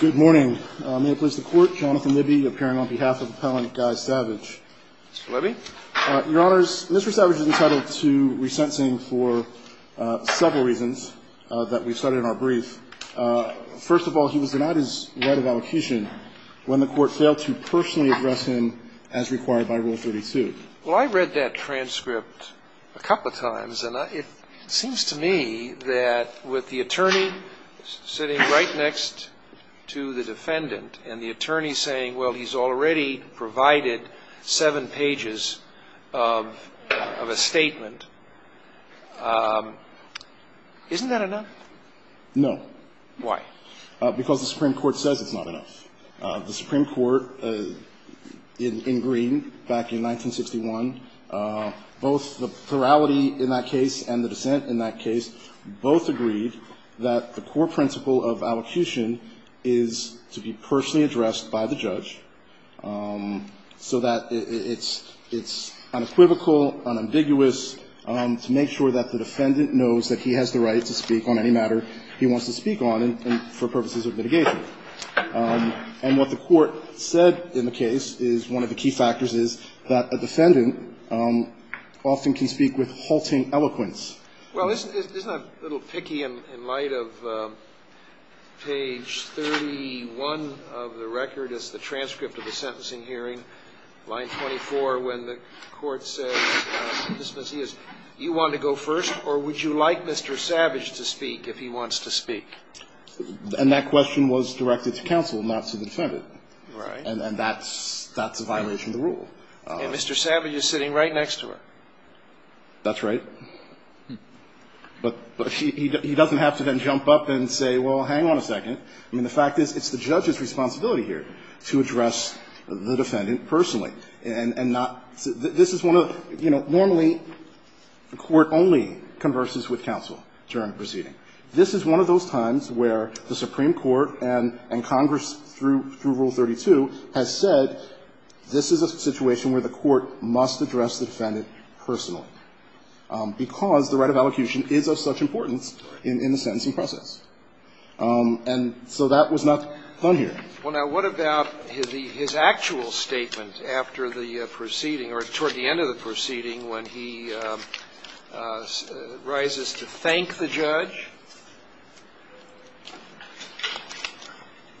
Good morning. May I please the court, Jonathan Libby, appearing on behalf of Appellant Guy Savage. Mr. Libby? Your honors, Mr. Savage is entitled to resentencing for several reasons that we've studied in our brief. First of all, he was denied his right of allocution when the court failed to personally address him as required by Rule 32. Well, I read that transcript a couple of times, and it seems to me that with the attorney sitting right next to the defendant and the attorney saying, well, he's already provided seven pages of a statement. Isn't that enough? No. Why? Because the Supreme Court says it's not enough. The Supreme Court in Green back in 1961, both the plurality in that case and the dissent in that case both agreed that the core principle of allocution is to be personally addressed by the judge so that it's unequivocal, unambiguous, to make sure that the defendant knows that he has the right to speak on any matter he wants to speak on for purposes of mitigation. And what the court said in the case is one of the key factors is that a defendant often can speak with halting eloquence. Well, isn't that a little picky in light of page 31 of the record, it's the transcript of the sentencing hearing, line 24, when the court says, Mr. Mazzia, you wanted to go first, or would you like Mr. Savage to speak if he wants to speak? And that question was directed to counsel, not to the defendant. Right. And that's a violation of the rule. And Mr. Savage is sitting right next to her. That's right. But he doesn't have to then jump up and say, well, hang on a second. I mean, the fact is, it's the judge's responsibility here to address the defendant personally and not to the – this is one of the, you know, normally the court only converses with counsel during the proceeding. This is one of those times where the court has said this is a situation where the court must address the defendant personally, because the right of elocution is of such importance in the sentencing process. And so that was not done here. Well, now, what about his actual statement after the proceeding or toward the end of the proceeding when he rises to thank the judge?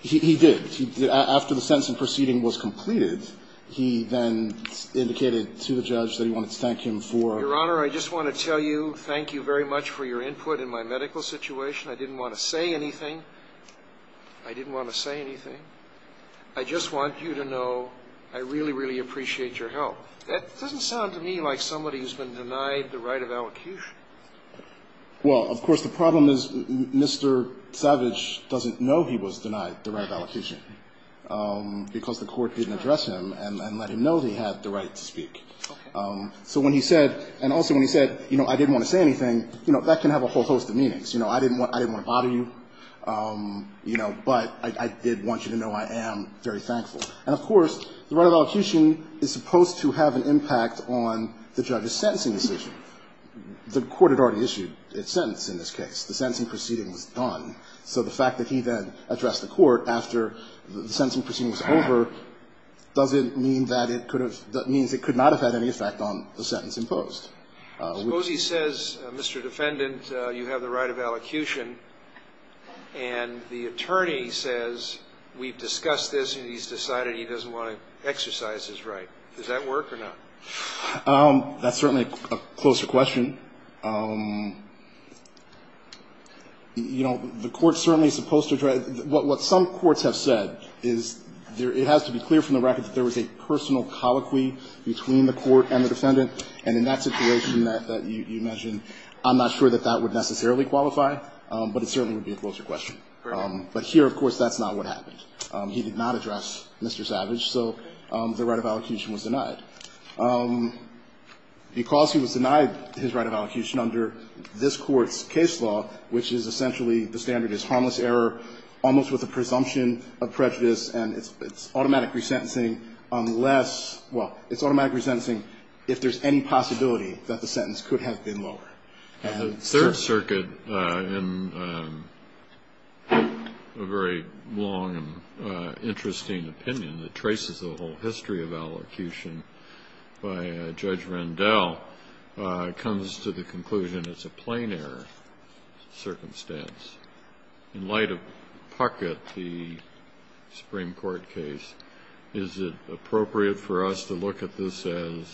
He did. After the sentencing proceeding was completed, he then indicated to the judge that he wanted to thank him for – Your Honor, I just want to tell you thank you very much for your input in my medical situation. I didn't want to say anything. I didn't want to say anything. I just want you to know I really, really appreciate your help. That doesn't sound to me like somebody who's been denied the right of elocution. Well, of course, the problem is Mr. Savage doesn't know he was denied the right of elocution because the court didn't address him and let him know he had the right to speak. So when he said – and also when he said, you know, I didn't want to say anything, you know, that can have a whole host of meanings. You know, I didn't want to bother you, you know, but I did want you to know I am very thankful. And, of course, the right of elocution is supposed to have an impact on the judge's sentencing decision. The court had already issued its sentence in this case. The sentencing proceeding was done. So the fact that he then addressed the court after the sentencing proceeding was over doesn't mean that it could have – that means it could not have had any effect on the sentence imposed. Suppose he says, Mr. Defendant, you have the right of elocution, and the attorney says we've discussed this and he's decided he doesn't want to exercise his right. Does that work or not? That's certainly a closer question. You know, the court's certainly supposed to try – what some courts have said is it has to be clear from the record that there was a personal colloquy between the court and the defendant. And in that situation that you mentioned, I'm not sure that that would necessarily qualify, but it certainly would be a closer question. But here, of course, that's not what happened. He did not address Mr. Savage, so the right of elocution was denied. Because he was denied his right of elocution under this Court's case law, which is essentially the standard is harmless error, almost with a presumption of prejudice, and it's automatic resentencing unless – well, it's automatic resentencing if there's any possibility that the sentence could have been lower. And, sir? The Third Circuit, in a very long and interesting opinion that traces the whole history of elocution by Judge Rendell, comes to the conclusion it's a plain error circumstance. In light of Puckett, the Supreme Court case, is it appropriate for us to look at this as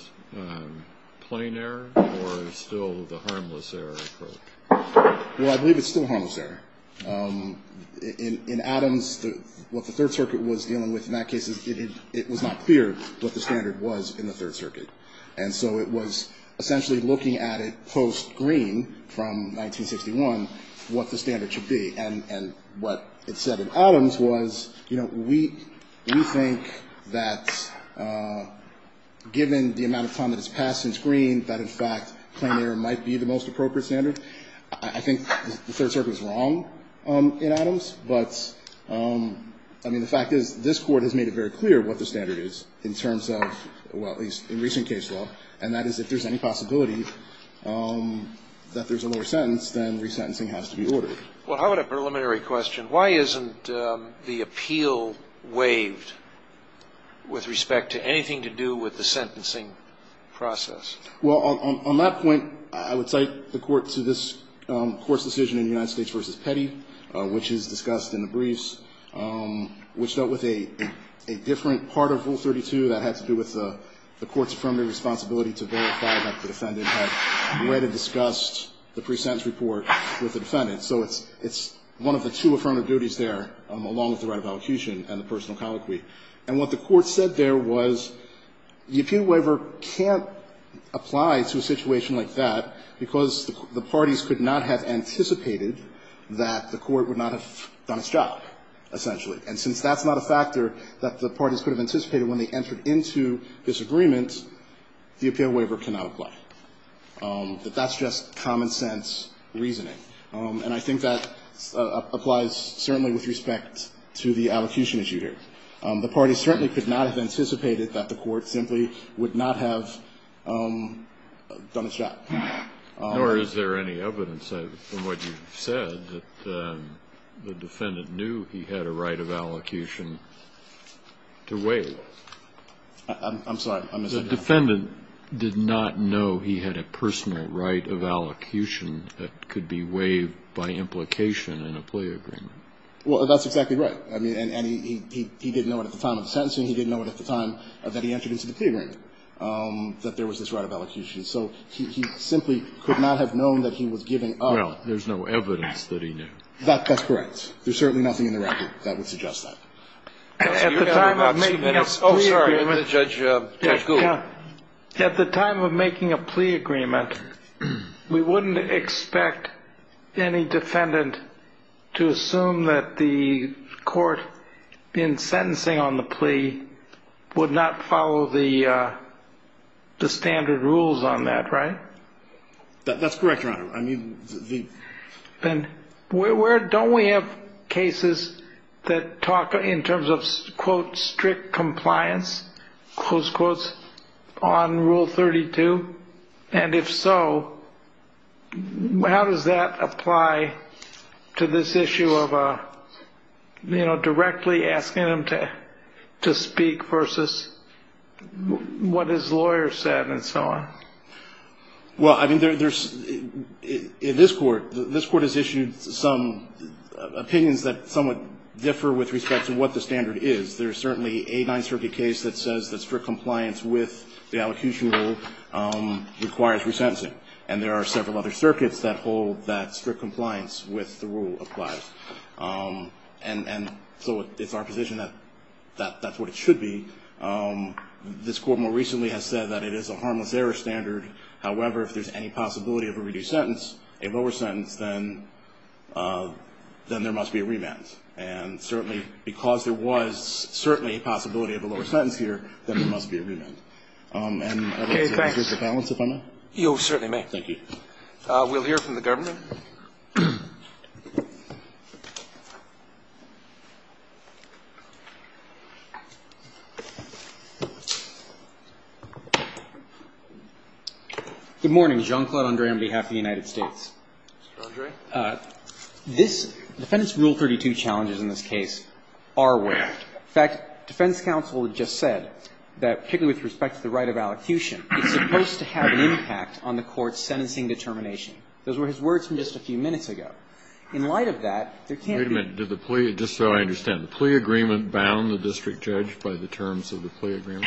plain error or still the harmless error approach? Well, I believe it's still harmless error. In Adams, what the Third Circuit was dealing with in that case is it was not clear what the standard was in the Third Circuit. And so it was essentially looking at it post-Green from 1961 what the standard should be. And what it said in Adams was, you know, we think that given the amount of time that has passed since Green that, in fact, plain error might be the most appropriate standard. I think the Third Circuit was wrong in Adams, but, I mean, the fact is this Court has made it very clear what the standard is in terms of, well, at least in recent case law, and that is if there's any possibility that there's a lower sentence, then resentencing has to be ordered. Well, how about a preliminary question? Why isn't the appeal waived with respect to anything to do with the sentencing process? Well, on that point, I would cite the Court to this Court's decision in United States v. Petty, which is discussed in the briefs, which dealt with a different part of Rule 32 that had to do with the Court's affirmative responsibility to verify that the defendant had read and discussed the pre-sentence report with the defendant. So it's one of the two affirmative duties there, along with the right of allocution and the personal colloquy. And what the Court said there was the appeal waiver can't apply to a situation like that, because the parties could not have anticipated that the Court would not have done its job, essentially. And since that's not a factor that the parties could have anticipated when they entered into this agreement, the appeal waiver cannot apply. That that's just common-sense reasoning. And I think that applies certainly with respect to the allocution issue here. The parties certainly could not have anticipated that the Court simply would not have done its job. Nor is there any evidence, from what you've said, that the defendant knew he had a right of allocation to waive. I'm sorry. The defendant did not know he had a personal right of allocation that could be waived by implication in a plea agreement. Well, that's exactly right. I mean, and he didn't know it at the time of the sentencing. He didn't know it at the time that he entered into the plea agreement, that there was this right of allocation. So he simply could not have known that he was giving up. Well, there's no evidence that he knew. That's correct. There's certainly nothing in the record that would suggest that. At the time of making a plea agreement, we wouldn't expect any defendant to assume that the Court, in sentencing on the plea, would not follow the standard rules on that, right? That's correct, Your Honor. Don't we have cases that talk in terms of, quote, strict compliance, close quotes, on Rule 32? And if so, how does that apply to this issue of, you know, directly asking him to speak versus what his lawyer said and so on? Well, I mean, there's, in this Court, this Court has issued some opinions that somewhat differ with respect to what the standard is. There's certainly a Ninth Circuit case that says that strict compliance with the allocution rule requires resentencing. And there are several other circuits that hold that strict compliance with the rule applies. And so it's our position that that's what it should be. This Court more recently has said that it is a harmless error standard. However, if there's any possibility of a reduced sentence, a lower sentence, then there must be a remand. And certainly, because there was certainly a possibility of a lower sentence here, then there must be a remand. And I don't know if I can use the balance if I may. You certainly may. Thank you. We'll hear from the Governor. Good morning. Jean-Claude André on behalf of the United States. Mr. André. Mr. André, this Defense Rule 32 challenges in this case are weird. In fact, defense counsel just said that, particularly with respect to the right of allocution, it's supposed to have an impact on the Court's sentencing determination. Those were his words from just a few minutes ago. In light of that, there can't be. Wait a minute. Did the plea, just so I understand, the plea agreement bound the district judge by the terms of the plea agreement?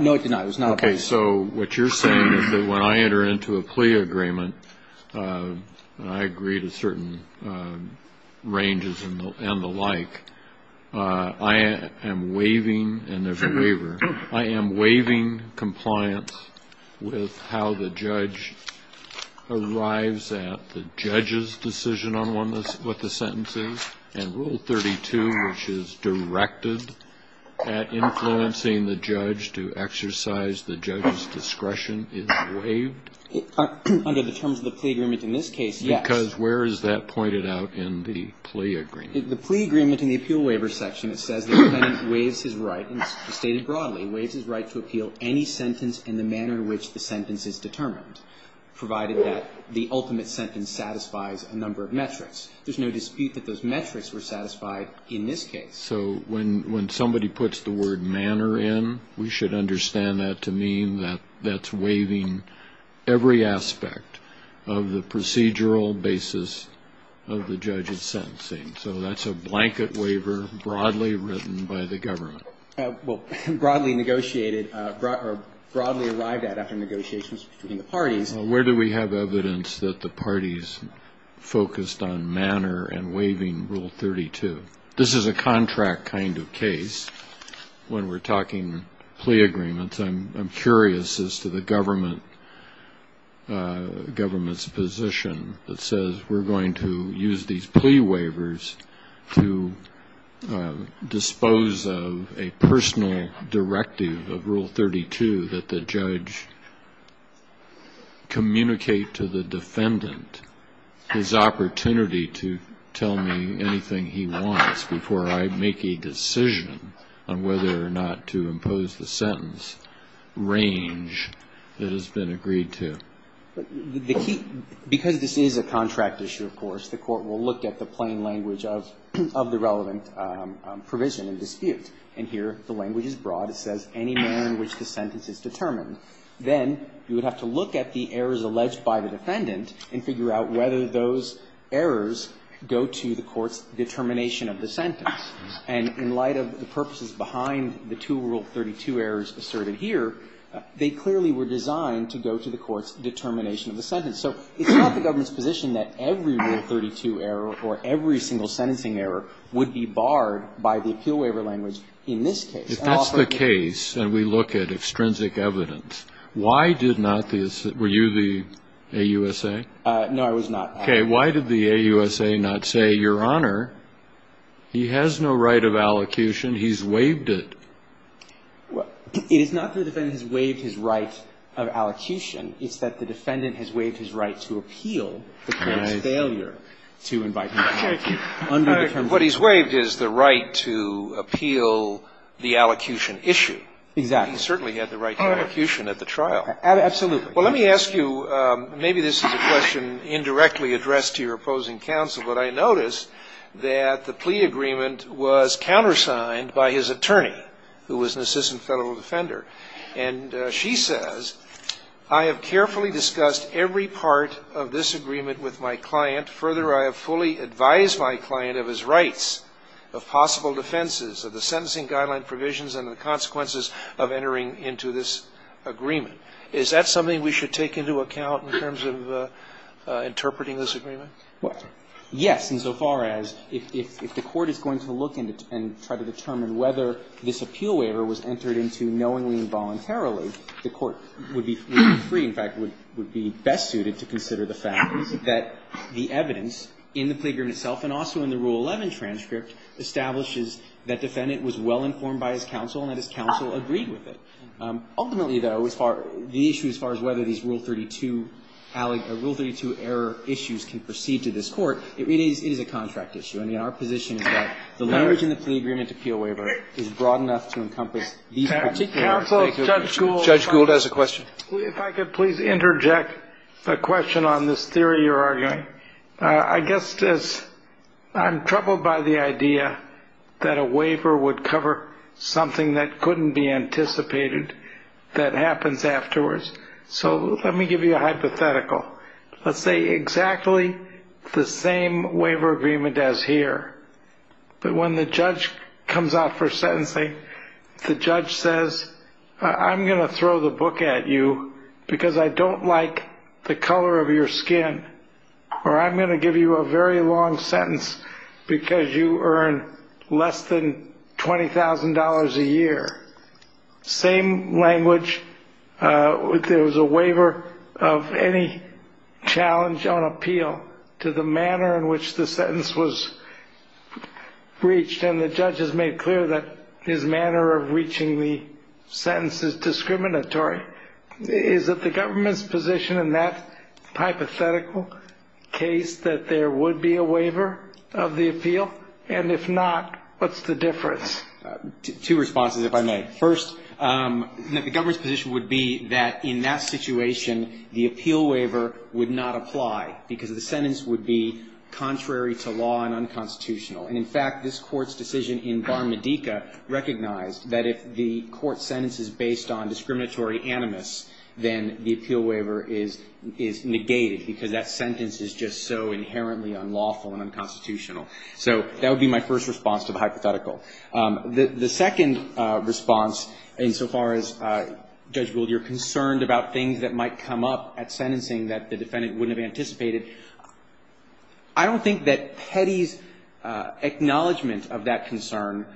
No, it did not. It was not a plea agreement. Okay, so what you're saying is that when I enter into a plea agreement, and I agree to certain ranges and the like, I am waiving, and there's a waiver, I am waiving compliance with how the judge arrives at the judge's decision on what the sentence is, and Rule 32, which is directed at influencing the judge to exercise the judge's discretion, is waived? Under the terms of the plea agreement in this case, yes. Because where is that pointed out in the plea agreement? The plea agreement in the appeal waiver section, it says the defendant waives his right and it's stated broadly, waives his right to appeal any sentence in the manner in which the sentence is determined, provided that the ultimate sentence satisfies a number of metrics. There's no dispute that those metrics were satisfied in this case. So when somebody puts the word manner in, we should understand that to mean that that's waiving every aspect of the procedural basis of the judge's sentencing. So that's a blanket waiver broadly written by the government. Well, broadly negotiated or broadly arrived at after negotiations between the parties. Where do we have evidence that the parties focused on manner and waiving Rule 32? This is a contract kind of case when we're talking plea agreements. I'm curious as to the government's position that says we're going to use these plea waivers to dispose of a defendant his opportunity to tell me anything he wants before I make a decision on whether or not to impose the sentence range that has been agreed to. The key, because this is a contract issue, of course, the Court will look at the plain language of the relevant provision and dispute. And here the language is broad. It says any manner in which the sentence is determined. Then you would have to look at the errors alleged by the defendant and figure out whether those errors go to the court's determination of the sentence. And in light of the purposes behind the two Rule 32 errors asserted here, they clearly were designed to go to the court's determination of the sentence. So it's not the government's position that every Rule 32 error or every single sentencing error would be barred by the appeal waiver language in this case. If that's the case and we look at extrinsic evidence, why did not the – were you the AUSA? No, I was not. Okay. Why did the AUSA not say, Your Honor, he has no right of allocution. He's waived it. Well, it is not that the defendant has waived his right of allocution. It's that the defendant has waived his right to appeal the court's failure to invite him to court. What he's waived is the right to appeal the allocution issue. Exactly. He certainly had the right to allocution at the trial. Absolutely. Well, let me ask you, maybe this is a question indirectly addressed to your opposing counsel, but I noticed that the plea agreement was countersigned by his attorney who was an assistant federal defender. And she says, I have carefully discussed every part of this agreement with my client. Further, I have fully advised my client of his rights, of possible defenses, of the sentencing guideline provisions and the consequences of entering into this agreement. Is that something we should take into account in terms of interpreting this agreement? Well, yes, insofar as if the court is going to look and try to determine whether this appeal waiver was entered into knowingly and voluntarily, the court would be free, in fact, would be best suited to consider the fact that the evidence in the plea agreement itself and also in the Rule 11 transcript establishes that defendant was well-informed by his counsel and that his counsel agreed with it. Ultimately, though, as far as the issue as far as whether these Rule 32 error issues can proceed to this court, it is a contract issue. I mean, our position is that the language in the plea agreement appeal waiver is broad enough to encompass these particular. Judge Gould has a question. If I could please interject a question on this theory you're arguing. I guess I'm troubled by the idea that a waiver would cover something that couldn't be anticipated that happens afterwards. So let me give you a hypothetical. Let's say exactly the same waiver agreement as here, but when the judge comes out for sentencing, the judge says, I'm going to throw the book at you because I don't like the color of your skin, or I'm going to give you a very long sentence because you earn less than $20,000 a year. Same language. There was a waiver of any challenge on appeal to the manner in which the sentence was reached, and the judge has made clear that his manner of reaching the sentence is discriminatory. Is it the government's position in that hypothetical case that there would be a waiver of the appeal? And if not, what's the difference? Two responses, if I may. First, the government's position would be that in that situation, the appeal waiver would not apply because the sentence would be contrary to law and unconstitutional. And, in fact, this Court's decision in Bar-Medica recognized that if the Court's sentence is based on discriminatory animus, then the appeal waiver is negated because that sentence is just so inherently unlawful and unconstitutional. So that would be my first response to the hypothetical. The second response, insofar as, Judge Gould, you're concerned about things that might come up at sentencing that the defendant wouldn't have anticipated, I don't think that Petty's acknowledgment of that concern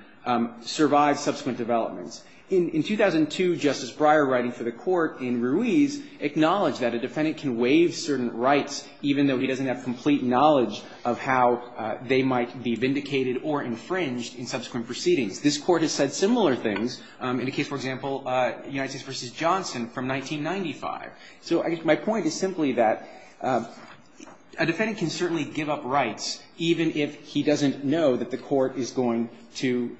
survives subsequent developments. In 2002, Justice Breyer, writing for the Court in Ruiz, acknowledged that a defendant can waive certain rights even though he doesn't have complete knowledge of how they might be vindicated or infringed in subsequent proceedings. This Court has said similar things in a case, for example, United States v. Johnson from 1995. So I guess my point is simply that a defendant can certainly give up rights even if he doesn't know that the Court is going to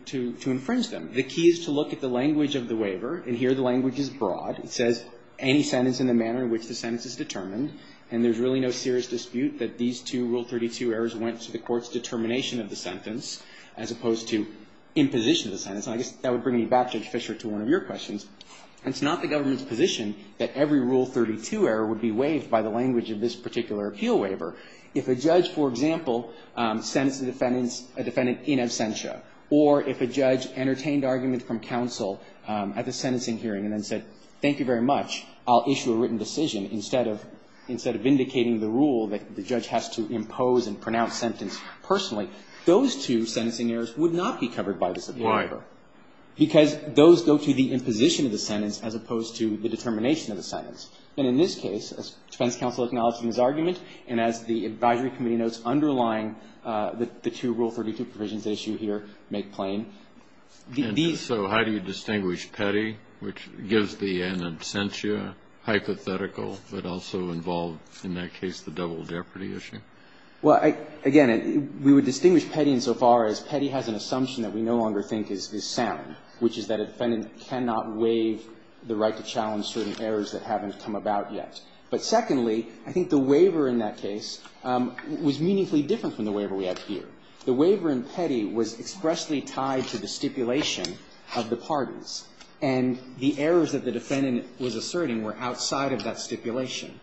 infringe them. The key is to look at the language of the waiver, and here the language is broad. It says any sentence in the manner in which the sentence is determined, and there's really no serious dispute that these two Rule 32 errors went to the Court's determination of the sentence as opposed to imposition of the sentence. And I guess that would bring me back, Judge Fischer, to one of your questions. It's not the government's position that every Rule 32 error would be waived by the language of this particular appeal waiver. If a judge, for example, sentenced a defendant in absentia, or if a judge entertained argument from counsel at the sentencing hearing and then said, thank you very much, I'll issue a written decision, instead of indicating the rule that the judge has to impose and pronounce sentence personally, those two sentencing errors would not be covered by this appeal waiver. Why? Because those go to the imposition of the sentence as opposed to the determination of the sentence. And in this case, as defense counsel acknowledges in his argument, and as the advisory committee notes underlying the two Rule 32 provisions at issue here make plain, these So how do you distinguish Petty, which gives the in absentia hypothetical, but also involved in that case the double jeopardy issue? Well, again, we would distinguish Petty insofar as Petty has an assumption that we no longer think is sound, which is that a defendant cannot waive the right to challenge certain errors that haven't come about yet. But secondly, I think the waiver in that case was meaningfully different from the waiver we have here. The waiver in Petty was expressly tied to the stipulation of the pardons. And the errors that the defendant was asserting were outside of that stipulation.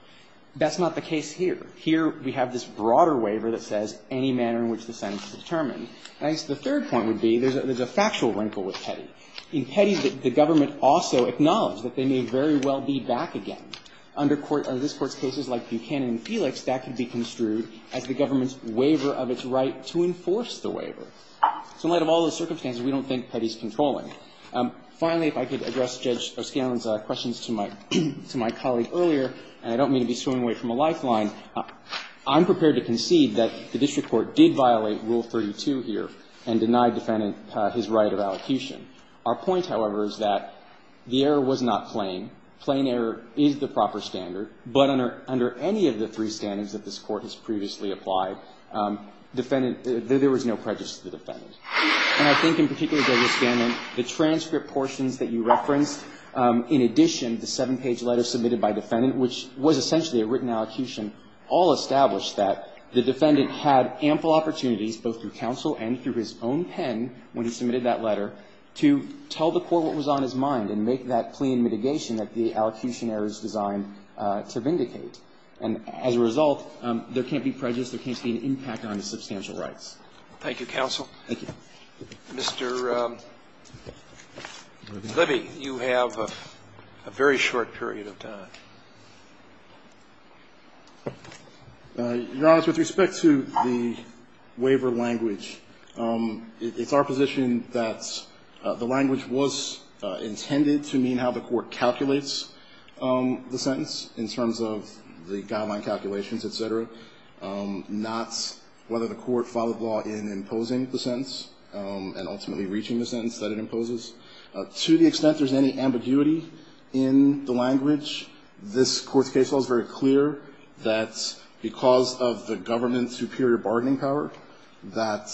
That's not the case here. Here we have this broader waiver that says any manner in which the sentence is determined. I guess the third point would be there's a factual wrinkle with Petty. In Petty, the government also acknowledged that they may very well be back again. Under this Court's cases like Buchanan and Felix, that could be construed as the government's refusal to enforce the waiver. So in light of all those circumstances, we don't think Petty's controlling it. Finally, if I could address Judge O'Scallon's questions to my colleague earlier, and I don't mean to be swinging away from a lifeline, I'm prepared to concede that the district court did violate Rule 32 here and denied defendant his right of allocution. Our point, however, is that the error was not plain. Plain error is the proper standard, but under any of the three standings that this there was no prejudice to the defendant. And I think in particular, Judge O'Scallon, the transcript portions that you referenced, in addition, the seven-page letter submitted by defendant, which was essentially a written allocution, all established that the defendant had ample opportunities, both through counsel and through his own pen when he submitted that letter, to tell the court what was on his mind and make that plain mitigation that the allocution error is designed to vindicate. And as a result, there can't be prejudice. There can't be an impact on his substantial rights. Thank you, counsel. Thank you. Mr. Libby, you have a very short period of time. Your Honor, with respect to the waiver language, it's our position that the language was intended to mean how the court calculates the sentence in terms of the guideline calculations, et cetera, not whether the court followed the law in imposing the sentence and ultimately reaching the sentence that it imposes. To the extent there's any ambiguity in the language, this Court's case law is very clear that because of the government's superior bargaining power, that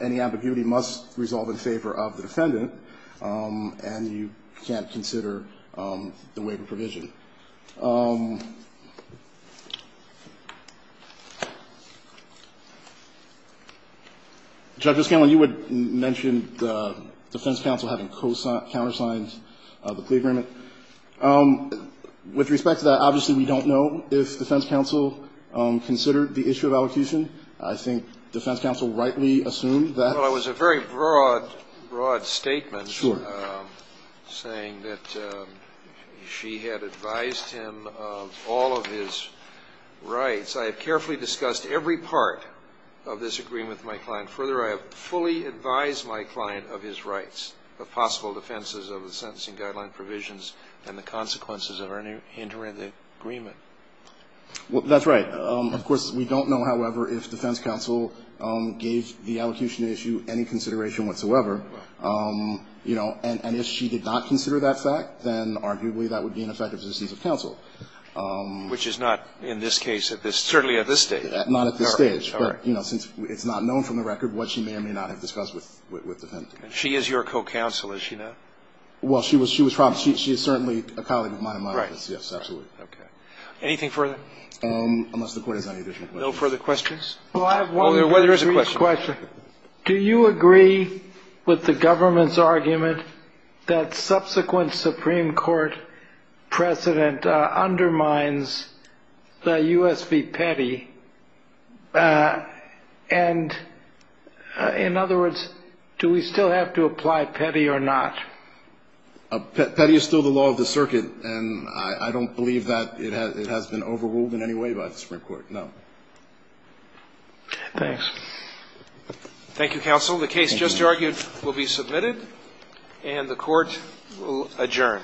any ambiguity must resolve in favor of the defendant, and you can't consider the waiver provision. Judge Oscanlon, you had mentioned the defense counsel having countersigned the plea agreement. With respect to that, obviously we don't know if defense counsel considered the issue of allocution. I think defense counsel rightly assumed that. Well, it was a very broad, broad statement saying that she had advised him of all of his rights. I have carefully discussed every part of this agreement with my client. Further, I have fully advised my client of his rights, the possible defenses of the sentencing guideline provisions and the consequences of any hindering of the agreement. Well, that's right. Of course, we don't know, however, if defense counsel gave the allocation issue any consideration whatsoever. You know, and if she did not consider that fact, then arguably that would be an effective assistance of counsel. Which is not in this case, certainly at this stage. Not at this stage. But, you know, since it's not known from the record what she may or may not have discussed with the defendant. She is your co-counsel, is she not? Well, she was probably. She is certainly a colleague of mine in my office. Yes, absolutely. Anything further? Unless the Court has any additional questions. No further questions? Oh, there is a question. Do you agree with the government's argument that subsequent Supreme Court precedent undermines the U.S. v. Petty? And, in other words, do we still have to apply Petty or not? Petty is still the law of the circuit. And I don't believe that it has been overruled in any way by the Supreme Court. No. Thanks. Thank you, counsel. The case just argued will be submitted. And the Court will adjourn.